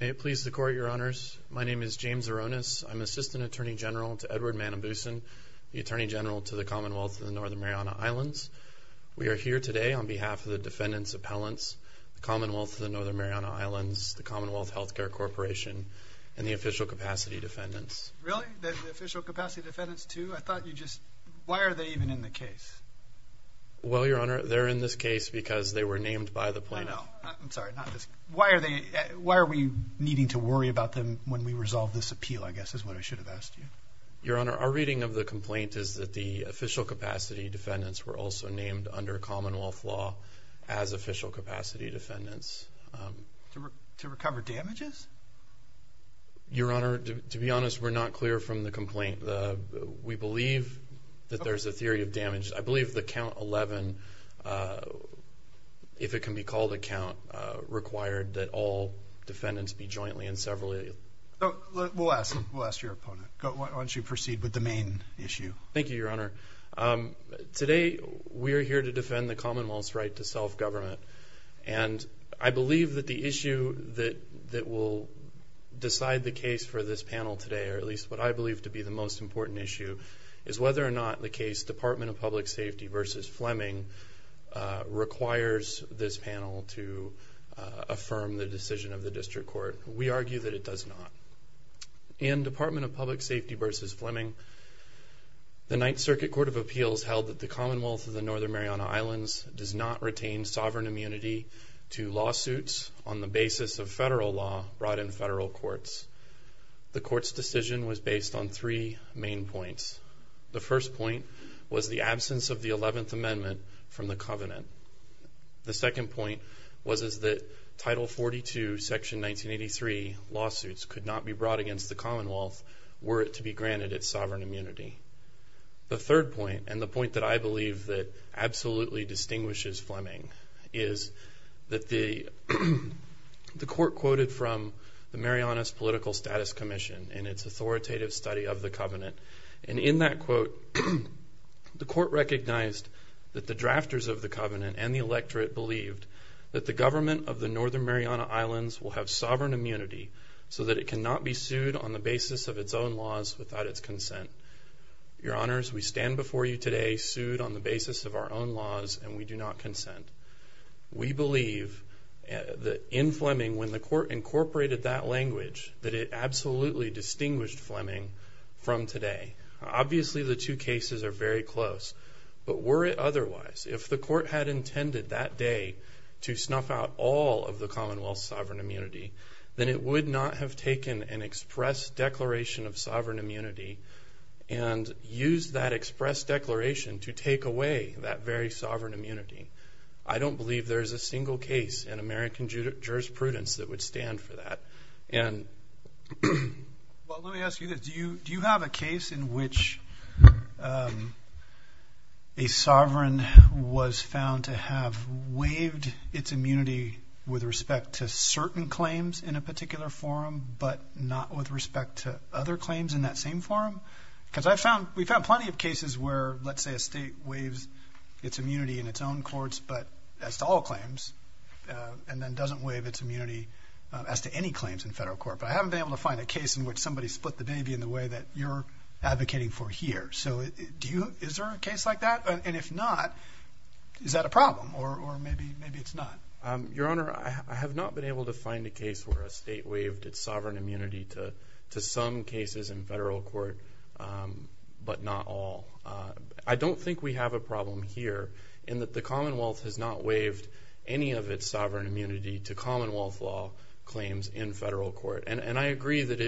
May it please the Court, Your Honors. My name is James Aronis. I'm Assistant Attorney General to Edward Manabusen, the Attorney General to the Commonwealth of the Northern Mariana Islands. We are here today on behalf of the defendants' appellants, the Commonwealth of the Northern Mariana Islands, the Commonwealth Healthcare Corporation, and the Official Capacity Defendants. Really? The Official Capacity Defendants too? I thought you just... Why are they even in the case? Well, Your Honor, they're in this case because they were named by the plaintiff. I know. I'm sorry, not this... Why are they... Why are we needing to worry about them when we resolve this appeal, I guess, is what I should have asked you. Your Honor, our reading of the complaint is that the Official Capacity Defendants were also named under Commonwealth law as Official Capacity Defendants. To recover damages? Your Honor, to be honest, we're not clear from the complaint. We believe that there's a theory of damage. I believe that Count 11, if it can be called a count, required that all defendants be jointly and severally... We'll ask your opponent. Why don't you proceed with the main issue? Thank you, Your Honor. Today, we are here to defend the Commonwealth's right to self-government, and I believe that the issue that will decide the case for this panel today, or at least what I believe to be the most important issue, is whether or not the case Department of Public Safety v. Fleming requires this panel to affirm the decision of the District Court. We argue that it does not. In Department of Public Safety v. Fleming, the Ninth Circuit Court of Appeals held that the Commonwealth of the Northern Mariana Islands does not retain sovereign immunity to lawsuits on the basis of federal law brought in federal courts. The Court's decision was based on three main points. The first point was the absence of the Eleventh Amendment from the Covenant. The second point was that Title 42, Section 1983 lawsuits could not be brought against the Commonwealth were it to be granted its sovereign immunity. The third point, and the point that I believe that absolutely distinguishes Fleming, is that the Court quoted from the Mariana's Political Status Commission in its authoritative study of the Covenant, and in that quote, the Court recognized that the drafters of the Covenant and the electorate believed that the government of the Northern Mariana Islands will have sovereign immunity so that it cannot be sued on the basis of its own laws without its consent. Your Honors, we stand before you today sued on the basis of our own laws and we do not consent. We believe that in Fleming, when the Court incorporated that language, that it absolutely distinguished Fleming from today. Obviously, the two cases are very close, but were it otherwise, if the Court had intended that day to snuff out all of the Commonwealth's sovereign immunity, then it would not have taken an express declaration of sovereign immunity and used that express declaration to take away that very sovereign immunity. I don't believe there is a single case in American jurisprudence that would stand for that. Well, let me ask you this. Do you have a case in which a sovereign was found to have waived its immunity with respect to certain claims in a particular forum, but not with respect to other claims in that same forum? Because we found plenty of cases where, let's say, a state waives its immunity in its own courts, but as to all claims, and then doesn't waive its immunity as to any claims in federal court. But I haven't been able to find a case in which somebody split the baby in the way that you're advocating for here. So is there a case like that? And if not, is that a problem or maybe it's not? Your Honor, I have not been able to find a case where a state waived its sovereign immunity to some cases in federal court, but not all. I don't think we have a problem here in that the Commonwealth has not waived any of its sovereign immunity to Commonwealth law claims in federal court. And I agree that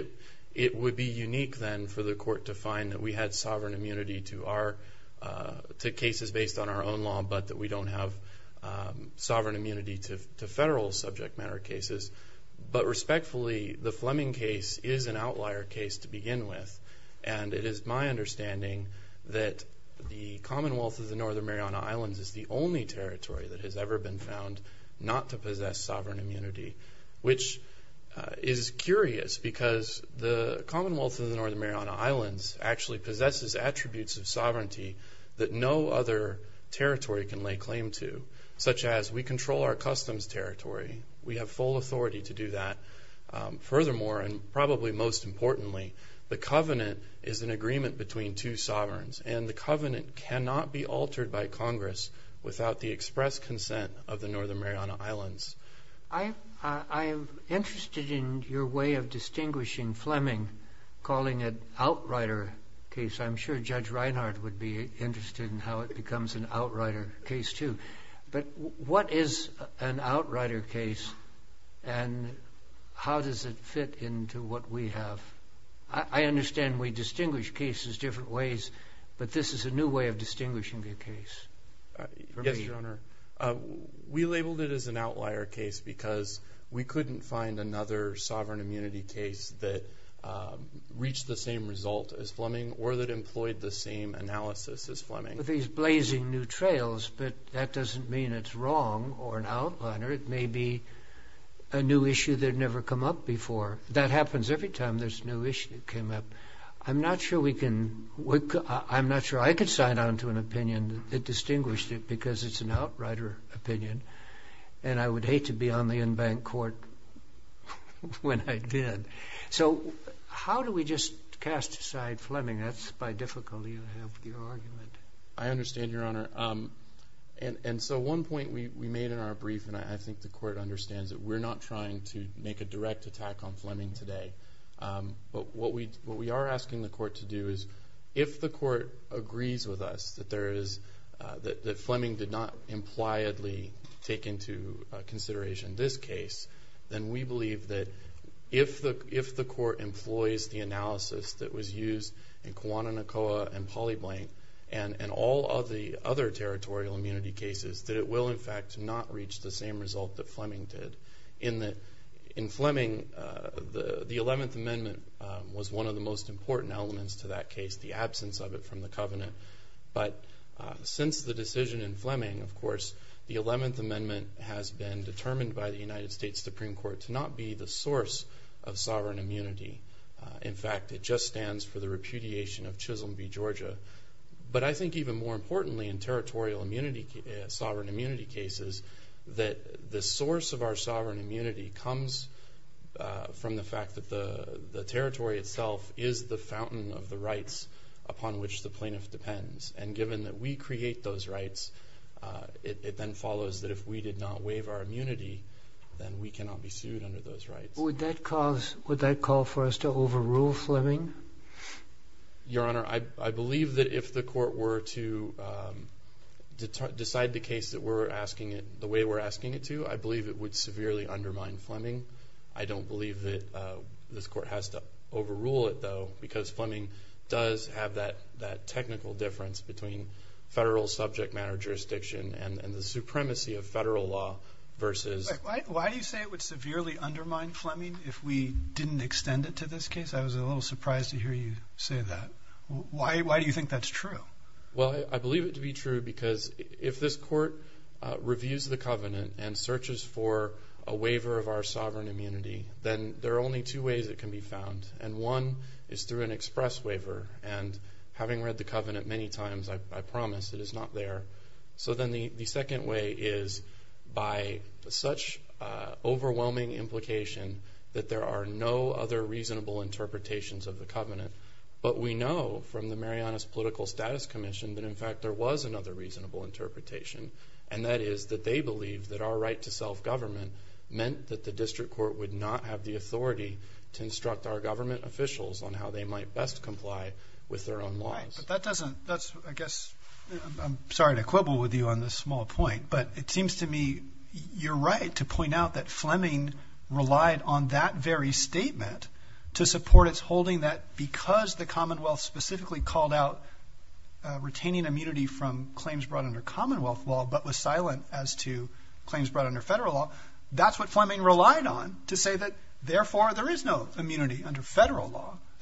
it would be unique then for the court to find that we had sovereign immunity to cases based on our own law, but that we don't have sovereign immunity to federal subject matter cases. But respectfully, the Fleming case is an outlier case to begin with. And it is my understanding that the Commonwealth of the Northern Mariana Islands is the only territory that has ever been found not to possess sovereign immunity, which is curious because the Commonwealth of the Northern Mariana Islands actually possesses attributes of sovereignty that no other territory can lay claim to, such as we control our customs territory. We have full authority to do that. Furthermore, and probably most importantly, the covenant is an agreement between two sovereigns, and the covenant cannot be altered by Congress without the express consent of the Northern Mariana Islands. I'm interested in your way of distinguishing Fleming, calling it an outrider case. I'm sure Judge Reinhardt would be interested in how it becomes an outrider case, too. But what is an outrider case, and how does it fit into what we have? I understand we distinguish cases different ways, but this is a new way of distinguishing a case. Yes, Your Honor. We labeled it as an outlier case because we couldn't find another sovereign immunity case that reached the same result as Fleming or that employed the same analysis as Fleming. These blazing new trails, but that doesn't mean it's wrong or an outliner. It may be a new issue that had never come up before. That happens every time there's a new issue that came up. I'm not sure I could sign on to an opinion that distinguished it because it's an outrider opinion, and I would hate to be on the en banc court when I did. So how do we just cast aside Fleming? That's by difficulty, I hope, your argument. I understand, Your Honor. And so one point we made in our brief, and I think the court understands it, we're not trying to make a direct attack on Fleming today. But what we are asking the court to do is if the court agrees with us that Fleming did not impliedly take into consideration this case, then we believe that if the court employs the analysis that was used in Kewana Nakoa and Polyblank and all of the other territorial immunity cases, that it will, in fact, not reach the same result that Fleming did. In Fleming, the 11th Amendment was one of the most important elements to that case, the absence of it from the covenant. But since the decision in Fleming, of course, the 11th Amendment has been determined by the United States Supreme Court to not be the source of sovereign immunity. In fact, it just stands for the repudiation of Chisholm v. Georgia. But I think even more importantly in territorial immunity, sovereign immunity cases, that the source of our sovereign immunity comes from the fact that the territory itself is the fountain of the rights upon which the plaintiff depends. And given that we create those rights, it then follows that if we did not waive our immunity, then we cannot be sued under those rights. Would that cause, would that call for us to overrule Fleming? Your Honor, I believe that if the court were to decide the case that we're asking it, the way we're asking it to, I believe it would severely undermine Fleming. I don't believe that this court has to overrule it, though, because Fleming does have that technical difference between federal subject matter jurisdiction and the supremacy of federal law versus... Why do you say it would severely undermine Fleming if we didn't extend it to this case? I was a little surprised to hear you say that. Why do you think that's true? Well, I believe it to be true because if this court reviews the covenant and searches for a waiver of our sovereign immunity, then there are only two ways it can be found. And one is through an express waiver. And having read the covenant many times, I promise it is not there. So then the second way is by such overwhelming implication that there are no other reasonable interpretations of the covenant. But we know from the Marianas Political Status Commission that, in fact, there was another reasonable interpretation. And that is that they believe that our right to self-government meant that the district court would not have the authority to instruct our government officials on how they might best comply with their own laws. Right, but that doesn't... That's, I guess... I'm sorry to quibble with you on this small point, but it seems to me you're right to point out that Fleming relied on that very statement to support its holding, that because the Commonwealth specifically called out retaining immunity from claims brought under Commonwealth law but was silent as to claims brought under federal law,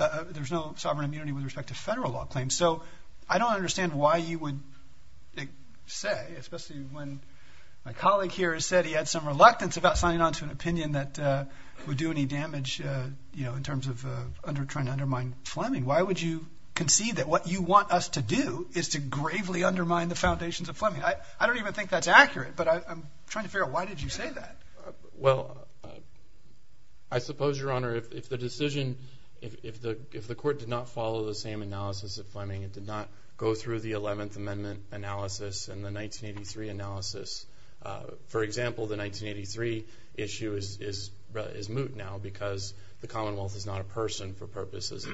and so I don't understand why you would say, especially when my colleague here has said he had some reluctance about signing on to an opinion that would do any damage in terms of trying to undermine Fleming. Why would you concede that what you want us to do is to gravely undermine the foundations of Fleming? I don't even think that's accurate, but I'm trying to figure out why did you say that? Well, I suppose, Your Honor, if the decision, if the court did not follow the same analysis of Fleming, it did not go through the 11th Amendment analysis and the 1983 analysis. For example, the 1983 issue is moot now because the Commonwealth is not a person for purposes of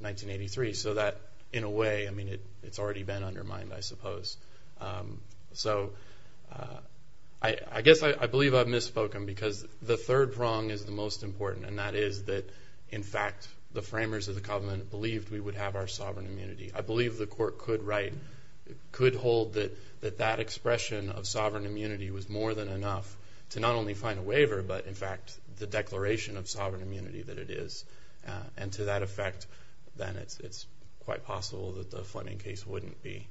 1983, so that in a way, I mean, it's already been undermined, I suppose. So, I guess I believe I've misspoken because the third prong is the most important, and that is that, in fact, the framers of the Commonwealth believed we would have our sovereign immunity. I believe the court could write, could hold that that expression of sovereign immunity was more than enough to not only find a waiver but, in fact, the declaration of sovereign immunity that it is, and to that effect, then it's quite possible that the Fleming case wouldn't be.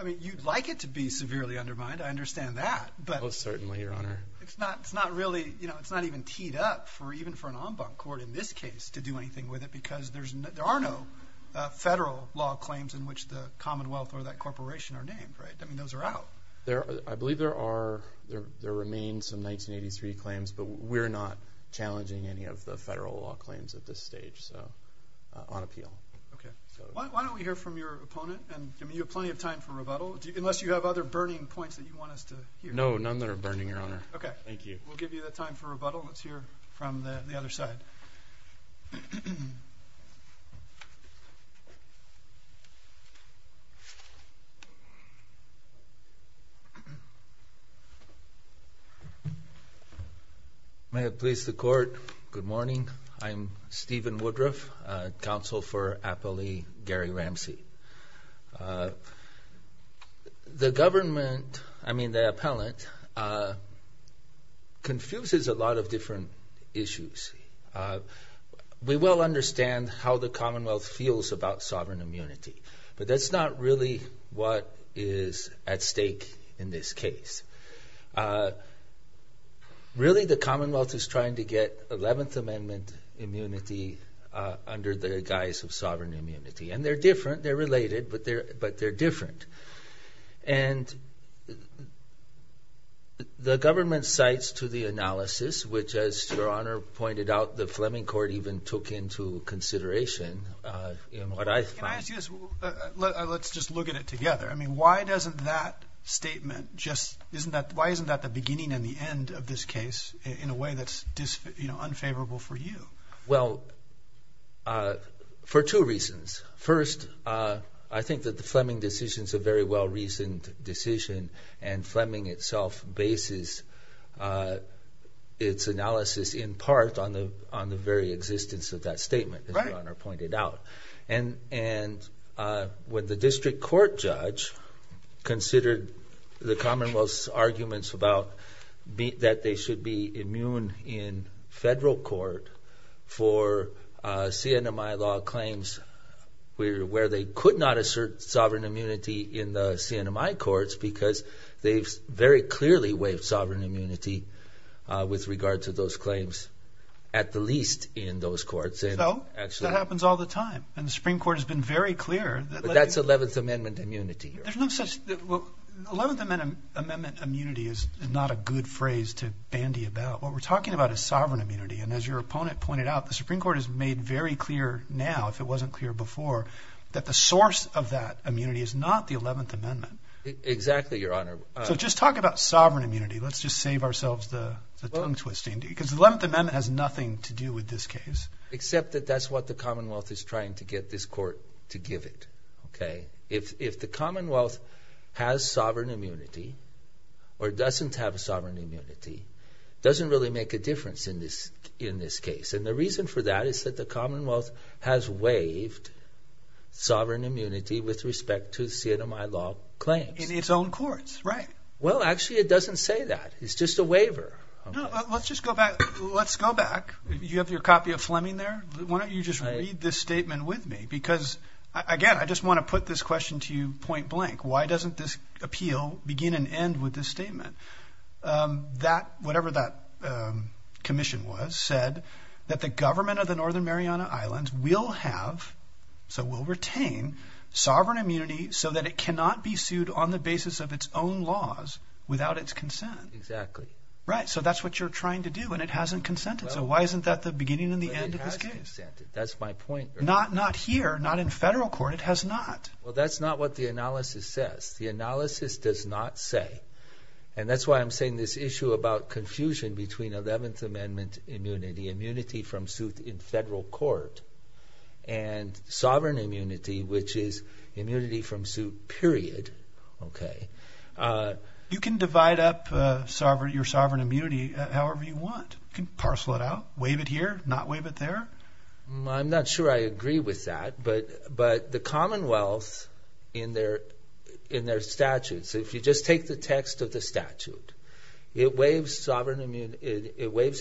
I mean, you'd like it to be severely undermined. I understand that. Most certainly, Your Honor. It's not really, you know, it's not even teed up for even for an en banc court in this case to do anything with it because there are no federal law claims in which the Commonwealth or that corporation are named, right? I mean, those are out. I believe there are, there remain some 1983 claims, but we're not challenging any of the federal law claims at this stage, so on appeal. Okay. Why don't we hear from your opponent? I mean, you have plenty of time for rebuttal, unless you have other burning points that you want us to hear. No, none that are burning, Your Honor. Okay. Thank you. We'll give you the time for rebuttal. Let's hear from the other side. May it please the court. Good morning. I'm Stephen Woodruff, counsel for appellee Gary Ramsey. The government, I mean, the appellant, confuses a lot of different issues. We well understand how the Commonwealth feels about sovereign immunity, but that's not really what is at stake in this case. Really, the Commonwealth is trying to get 11th Amendment immunity under the guise of sovereign immunity, and they're different. They're related, but they're different. And the government cites to the analysis, which, as Your Honor pointed out, the Fleming court even took into consideration in what I find. Let's just look at it together. I mean, why doesn't that statement just, why isn't that the beginning and the end of this case in a way that's unfavorable for you? Well, for two reasons. First, I think that the Fleming decision is a very well-reasoned decision, and Fleming itself bases its analysis in part on the very existence of that statement, as Your Honor pointed out. And when the district court judge considered the Commonwealth's arguments about that they should be immune in federal court for CNMI law claims where they could not assert sovereign immunity in the CNMI courts because they've very clearly waived sovereign immunity with regard to those claims, at the least in those courts. So that happens all the time, and the Supreme Court has been very clear. But that's Eleventh Amendment immunity. There's no such, well, Eleventh Amendment immunity is not a good phrase to bandy about. What we're talking about is sovereign immunity, and as your opponent pointed out, the Supreme Court has made very clear now, if it wasn't clear before, that the source of that immunity is not the Eleventh Amendment. Exactly, Your Honor. So just talk about sovereign immunity. Let's just save ourselves the tongue-twisting, because the Eleventh Amendment has nothing to do with this case. Except that that's what the Commonwealth is trying to get this court to give it, okay? If the Commonwealth has sovereign immunity or doesn't have sovereign immunity, it doesn't really make a difference in this case. And the reason for that is that the Commonwealth has waived sovereign immunity with respect to CNMI law claims. In its own courts, right. Well, actually it doesn't say that. It's just a waiver. Let's just go back. Let's go back. You have your copy of Fleming there. Why don't you just read this statement with me? Because, again, I just want to put this question to you point blank. Why doesn't this appeal begin and end with this statement? That, whatever that commission was, said that the government of the Northern Mariana Islands will have, so will retain, sovereign immunity so that it cannot be sued on the basis of its own laws without its consent. Exactly. Right. So that's what you're trying to do, and it hasn't consented. So why isn't that the beginning and the end of this case? That's my point. Not here, not in federal court. It has not. Well, that's not what the analysis says. The analysis does not say. And that's why I'm saying this issue about confusion between 11th Amendment immunity, immunity from suit in federal court, and sovereign immunity, which is immunity from suit, period. Okay. You can divide up your sovereign immunity however you want. You can parcel it out, waive it here, not waive it there. I'm not sure I agree with that, but the Commonwealth, in their statutes, if you just take the text of the statute, it waives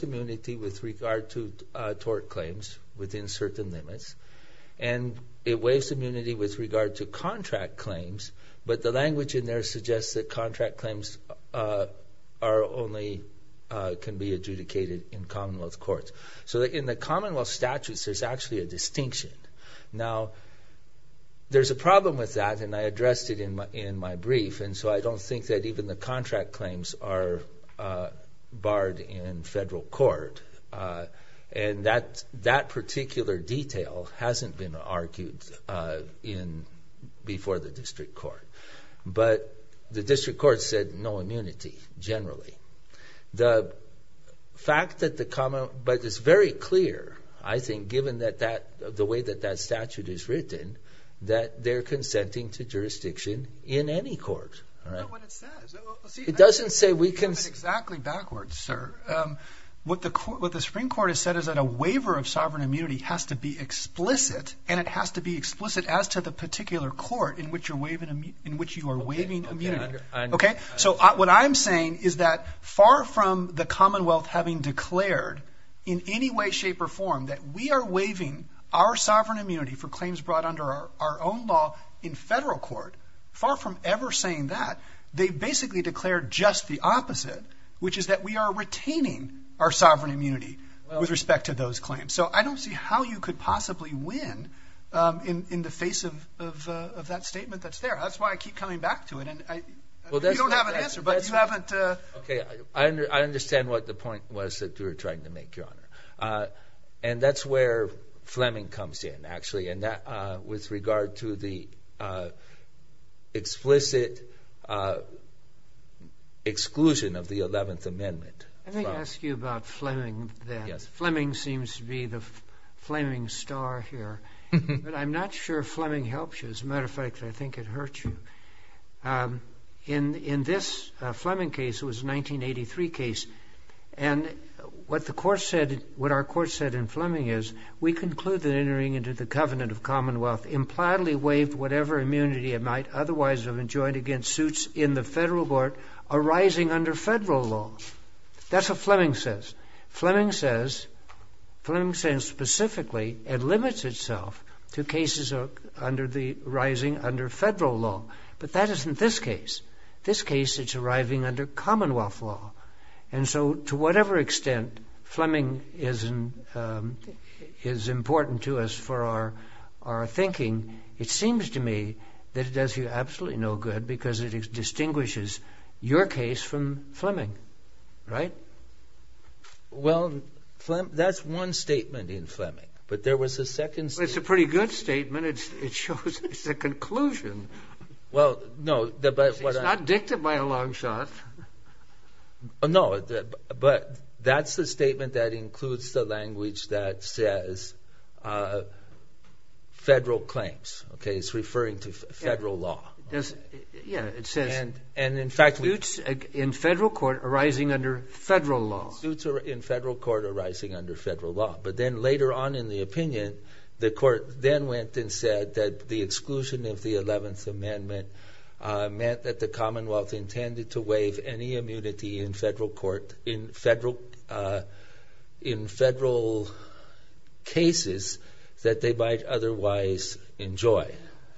immunity with regard to tort claims within certain limits, and it waives immunity with regard to contract claims, but the language in there suggests that contract claims can be adjudicated in Commonwealth courts. So in the Commonwealth statutes, there's actually a distinction. Now, there's a problem with that, and I addressed it in my brief, and so I don't think that even the contract claims are barred in federal court. And that particular detail hasn't been argued before the district court, but the district court said no immunity, generally. The fact that the Commonwealth, but it's very clear, I think, given the way that that statute is written, that they're consenting to jurisdiction in any court. I don't know what it says. It doesn't say we can... It's written exactly backwards, sir. What the Supreme Court has said is that a waiver of sovereign immunity has to be explicit, and it has to be explicit as to the particular court in which you are waiving immunity. So what I'm saying is that far from the Commonwealth having declared in any way, shape, or form that we are waiving our sovereign immunity for claims brought under our own law in federal court, far from ever saying that, they basically declared just the opposite, which is that we are retaining our sovereign immunity with respect to those claims. So I don't see how you could possibly win in the face of that statement that's there. That's why I keep coming back to it, and you don't have an answer, but you haven't... Okay, I understand what the point was that you were trying to make, Your Honor. And that's where Fleming comes in, actually, with regard to the explicit exclusion of the 11th Amendment. Let me ask you about Fleming then. Fleming seems to be the Fleming star here, but I'm not sure Fleming helps you. As a matter of fact, I think it hurts you. In this Fleming case, it was a 1983 case, and what our court said in Fleming is, we conclude that entering into the Covenant of Commonwealth impliedly waived whatever immunity it might otherwise have enjoined against suits in the federal court arising under federal law. That's what Fleming says. Fleming says, specifically, it limits itself to cases arising under federal law. But that isn't this case. This case, it's arriving under Commonwealth law. And so to whatever extent Fleming is important to us for our thinking, it seems to me that it does you absolutely no good because it distinguishes your case from Fleming, right? Well, that's one statement in Fleming, but there was a second statement. Well, it's a pretty good statement. It shows it's a conclusion. It's not dicted by a long shot. No, but that's the statement that includes the language that says federal claims. It's referring to federal law. Yeah, it says suits in federal court arising under federal law. Suits in federal court arising under federal law. But then later on in the opinion, the court then went and said that the exclusion of the 11th Amendment meant that the Commonwealth intended to waive any immunity in federal cases that they might otherwise enjoy.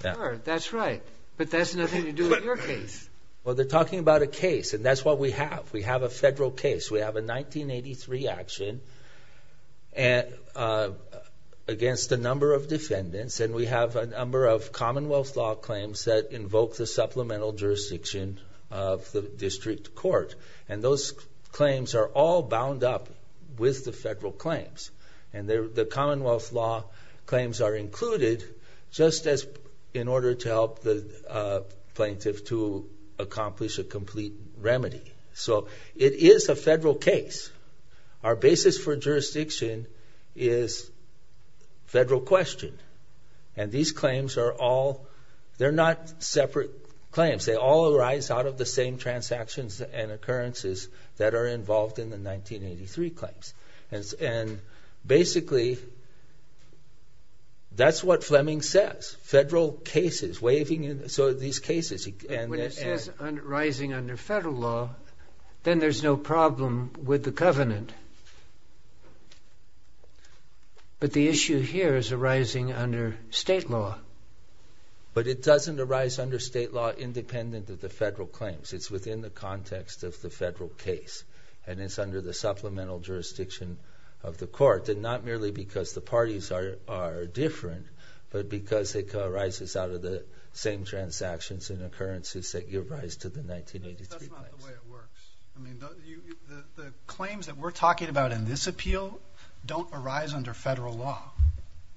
Sure, that's right. But that has nothing to do with your case. Well, they're talking about a case, and that's what we have. We have a federal case. We have a 1983 action against a number of defendants, and we have a number of Commonwealth law claims that invoke the supplemental jurisdiction of the district court. And those claims are all bound up with the federal claims. And the Commonwealth law claims are included just in order to help the plaintiff to accomplish a complete remedy. So it is a federal case. Our basis for jurisdiction is federal question. And these claims are all they're not separate claims. They all arise out of the same transactions and occurrences that are involved in the 1983 claims. And basically, that's what Fleming says. Federal cases, waiving these cases. When it says arising under federal law, then there's no problem with the covenant. But the issue here is arising under state law. But it doesn't arise under state law independent of the federal claims. It's within the context of the federal case. And it's under the supplemental jurisdiction of the court, and not merely because the parties are different, but because it arises out of the same transactions and occurrences that give rise to the 1983 claims. That's not the way it works. I mean, the claims that we're talking about in this appeal don't arise under federal law.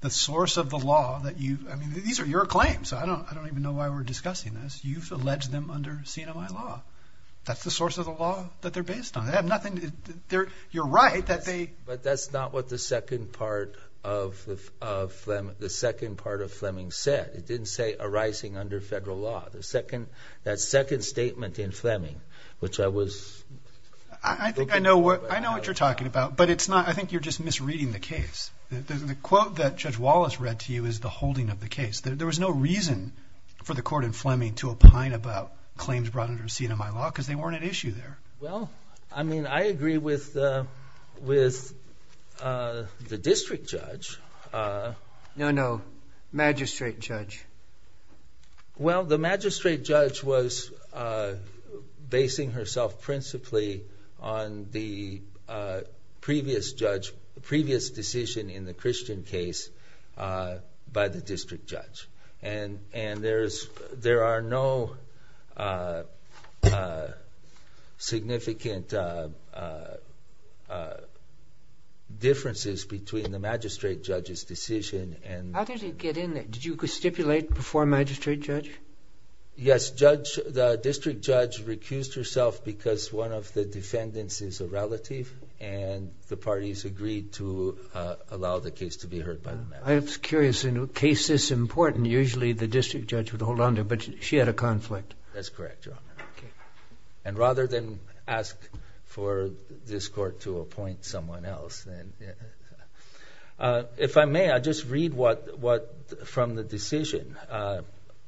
The source of the law that you – I mean, these are your claims. I don't even know why we're discussing this. You've alleged them under CMI law. That's the source of the law that they're based on. They have nothing – you're right that they – But that's not what the second part of Fleming said. It didn't say arising under federal law. The second – that second statement in Fleming, which I was – I think I know what you're talking about, but it's not – I think you're just misreading the case. The quote that Judge Wallace read to you is the holding of the case. There was no reason for the court in Fleming to opine about claims brought under CMI law because they weren't at issue there. Well, I mean, I agree with the district judge. No, no. Magistrate judge. Well, the magistrate judge was basing herself principally on the previous judge – previous decision in the Christian case by the district judge. And there are no significant differences between the magistrate judge's decision and – How did it get in there? Did you stipulate before magistrate judge? Yes, judge – the district judge recused herself because one of the defendants is a relative, and the parties agreed to allow the case to be heard by the magistrate judge. I was curious, in a case this important, usually the district judge would hold onto it, but she had a conflict. That's correct, Your Honor. And rather than ask for this court to appoint someone else, then – If I may, I'll just read what – from the decision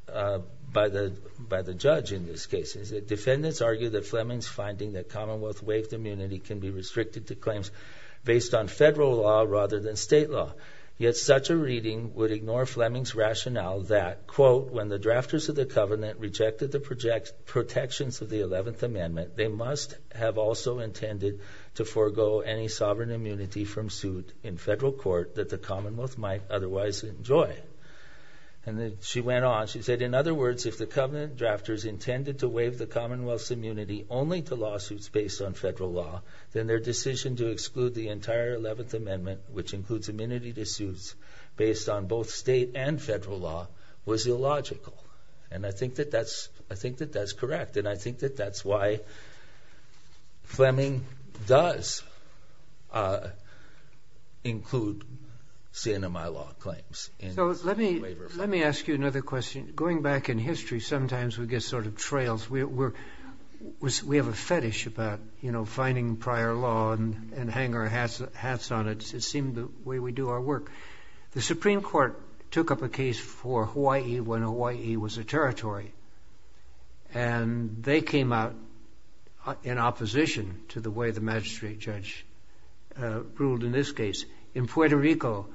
by the judge in this case. It said, defendants argue that Fleming's finding that Commonwealth waived immunity can be restricted to claims based on federal law rather than state law. Yet such a reading would ignore Fleming's rationale that, quote, when the drafters of the Covenant rejected the protections of the 11th Amendment, they must have also intended to forego any sovereign immunity from suit in federal court that the Commonwealth might otherwise enjoy. And then she went on. She said, in other words, if the Covenant drafters intended to waive the Commonwealth's immunity only to lawsuits based on federal law, then their decision to exclude the entire 11th Amendment, which includes immunity to suits based on both state and federal law, was illogical. And I think that that's correct. And I think that that's why Fleming does include CNMI law claims. Let me ask you another question. Going back in history, sometimes we get sort of trails. We have a fetish about, you know, finding prior law and hang our hats on it. It seemed the way we do our work. The Supreme Court took up a case for Hawaii when Hawaii was a territory. And they came out in opposition to the way the magistrate judge ruled in this case. In Puerto Rico,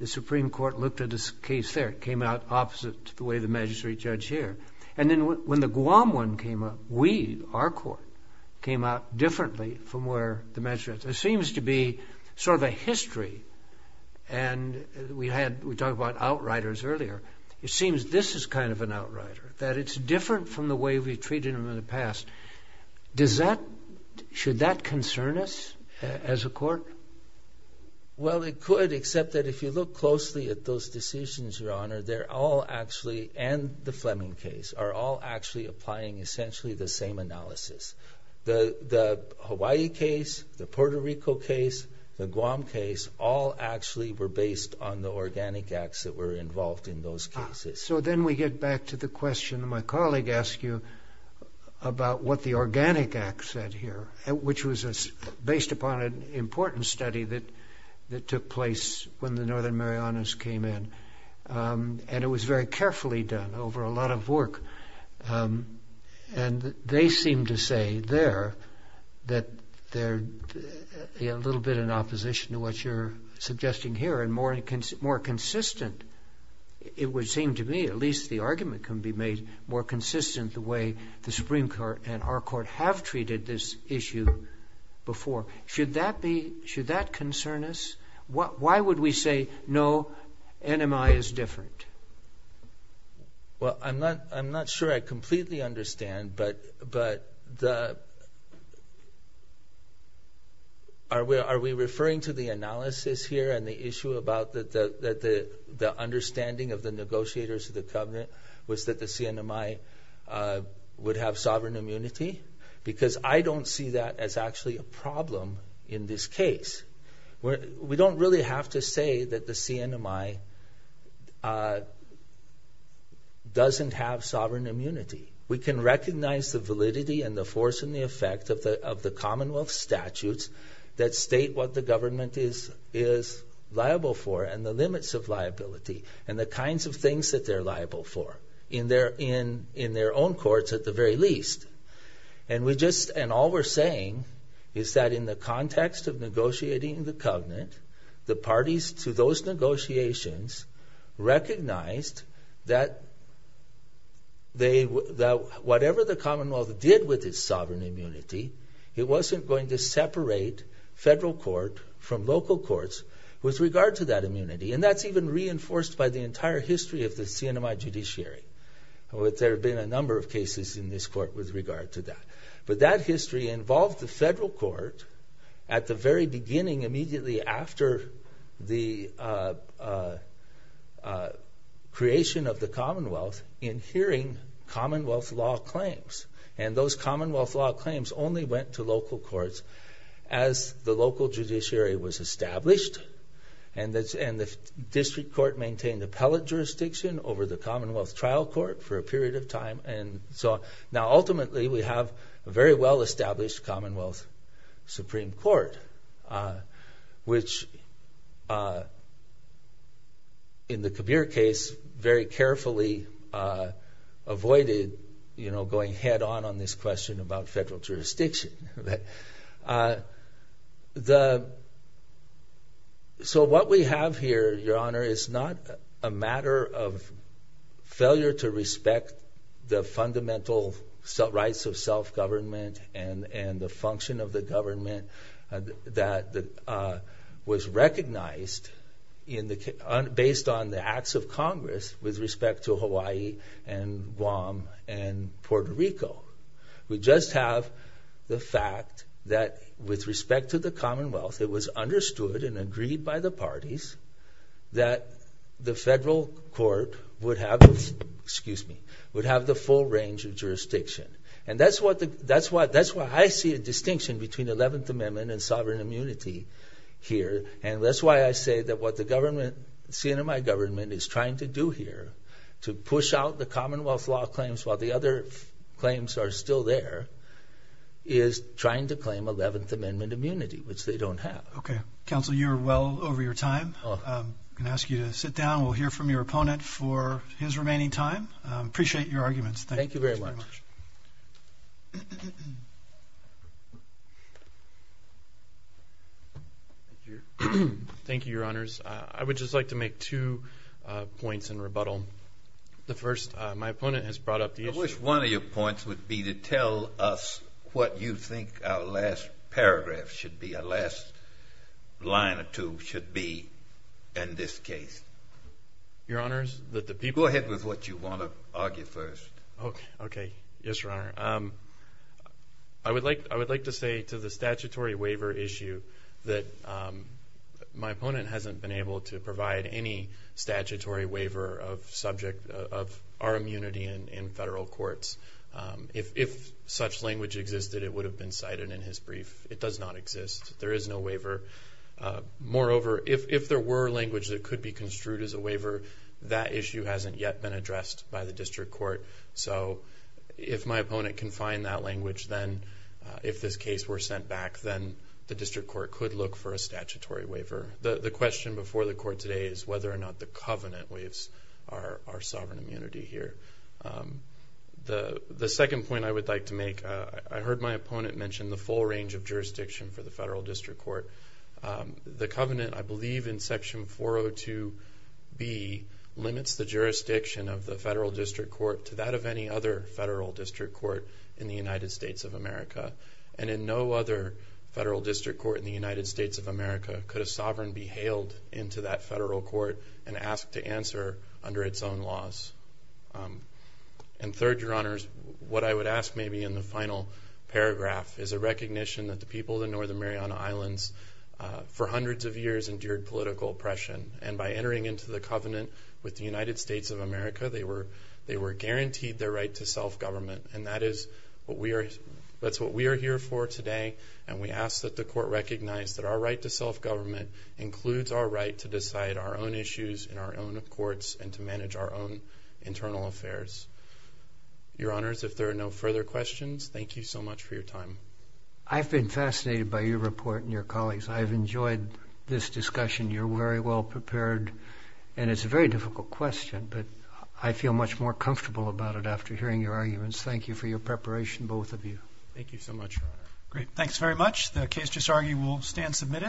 the Supreme Court looked at this case there. It came out opposite to the way the magistrate judge here. And then when the Guam one came up, we, our court, came out differently from where the magistrate judge. There seems to be sort of a history. And we talked about outriders earlier. It seems this is kind of an outrider, that it's different from the way we've treated them in the past. Should that concern us as a court? Well, it could, except that if you look closely at those decisions, Your Honor, they're all actually, and the Fleming case, are all actually applying essentially the same analysis. The Hawaii case, the Puerto Rico case, the Guam case, all actually were based on the organic acts that were involved in those cases. So then we get back to the question my colleague asked you about what the organic acts said here, which was based upon an important study that took place when the Northern Marianas came in. And it was very carefully done over a lot of work. And they seem to say there that they're a little bit in opposition to what you're suggesting here, and more consistent, it would seem to me, at least the argument can be made, more consistent the way the Supreme Court and our court have treated this issue before. Should that concern us? Why would we say, no, NMI is different? Well, I'm not sure I completely understand, but are we referring to the analysis here and the issue about the understanding of the negotiators of the covenant was that the CNMI would have sovereign immunity? Because I don't see that as actually a problem in this case. We don't really have to say that the CNMI doesn't have sovereign immunity. We can recognize the validity and the force and the effect of the Commonwealth statutes that state what the government is liable for and the limits of liability and the kinds of things that they're liable for in their own courts at the very least. And all we're saying is that in the context of negotiating the covenant, the parties to those negotiations recognized that whatever the Commonwealth did with its sovereign immunity, it wasn't going to separate federal court from local courts with regard to that immunity. And that's even reinforced by the entire history of the CNMI judiciary. There have been a number of cases in this court with regard to that. But that history involved the federal court at the very beginning, immediately after the creation of the Commonwealth, in hearing Commonwealth law claims. And those Commonwealth law claims only went to local courts as the local judiciary was established. And the district court maintained appellate jurisdiction over the Commonwealth trial court for a period of time. Now, ultimately, we have a very well-established Commonwealth Supreme Court, which, in the Kabir case, very carefully avoided going head-on on this question about federal jurisdiction. So what we have here, Your Honor, is not a matter of failure to respect the fundamental rights of self-government and the function of the government that was recognized based on the acts of Congress with respect to Hawaii and Guam and Puerto Rico. We just have the fact that, with respect to the Commonwealth, it was understood and agreed by the parties that the federal court would have the full range of jurisdiction. And that's why I see a distinction between 11th Amendment and sovereign immunity here. And that's why I say that what the government, CNMI government, is trying to do here to push out the Commonwealth law claims while the other claims are still there, is trying to claim 11th Amendment immunity, which they don't have. Okay. Counsel, you're well over your time. I'm going to ask you to sit down. We'll hear from your opponent for his remaining time. Appreciate your arguments. Thank you very much. Thank you, Your Honors. I would just like to make two points in rebuttal. The first, my opponent has brought up the issue. I wish one of your points would be to tell us what you think our last paragraph should be, our last line or two should be in this case. Your Honors, that the people Go ahead with what you want to argue first. Okay. Yes, Your Honor. I would like to say to the statutory waiver issue that my opponent hasn't been able to provide any statutory waiver of subject of our immunity in federal courts. If such language existed, it would have been cited in his brief. It does not exist. There is no waiver. Moreover, if there were language that could be construed as a waiver, that issue hasn't yet been addressed by the district court. So if my opponent can find that language, then if this case were sent back, then the district court could look for a statutory waiver. The question before the court today is whether or not the covenant waives our sovereign immunity here. The second point I would like to make, I heard my opponent mention the full range of jurisdiction for the federal district court. The covenant, I believe in Section 402B, limits the jurisdiction of the federal district court to that of any other federal district court in the United States of America. And in no other federal district court in the United States of America could a sovereign be hailed into that federal court and asked to answer under its own laws. And third, Your Honors, what I would ask maybe in the final paragraph is a recognition that the people of the Northern Mariana Islands for hundreds of years endured political oppression. And by entering into the covenant with the United States of America, they were guaranteed their right to self-government. And that is what we are here for today. And we ask that the court recognize that our right to self-government includes our right to decide our own issues in our own courts and to manage our own internal affairs. Your Honors, if there are no further questions, thank you so much for your time. I've been fascinated by your report and your colleagues. I've enjoyed this discussion. You're very well prepared. And it's a very difficult question, but I feel much more comfortable about it after hearing your arguments. Thank you for your preparation, both of you. Thank you so much, Your Honor. Great. Thanks very much. The case just argued will stand submitted.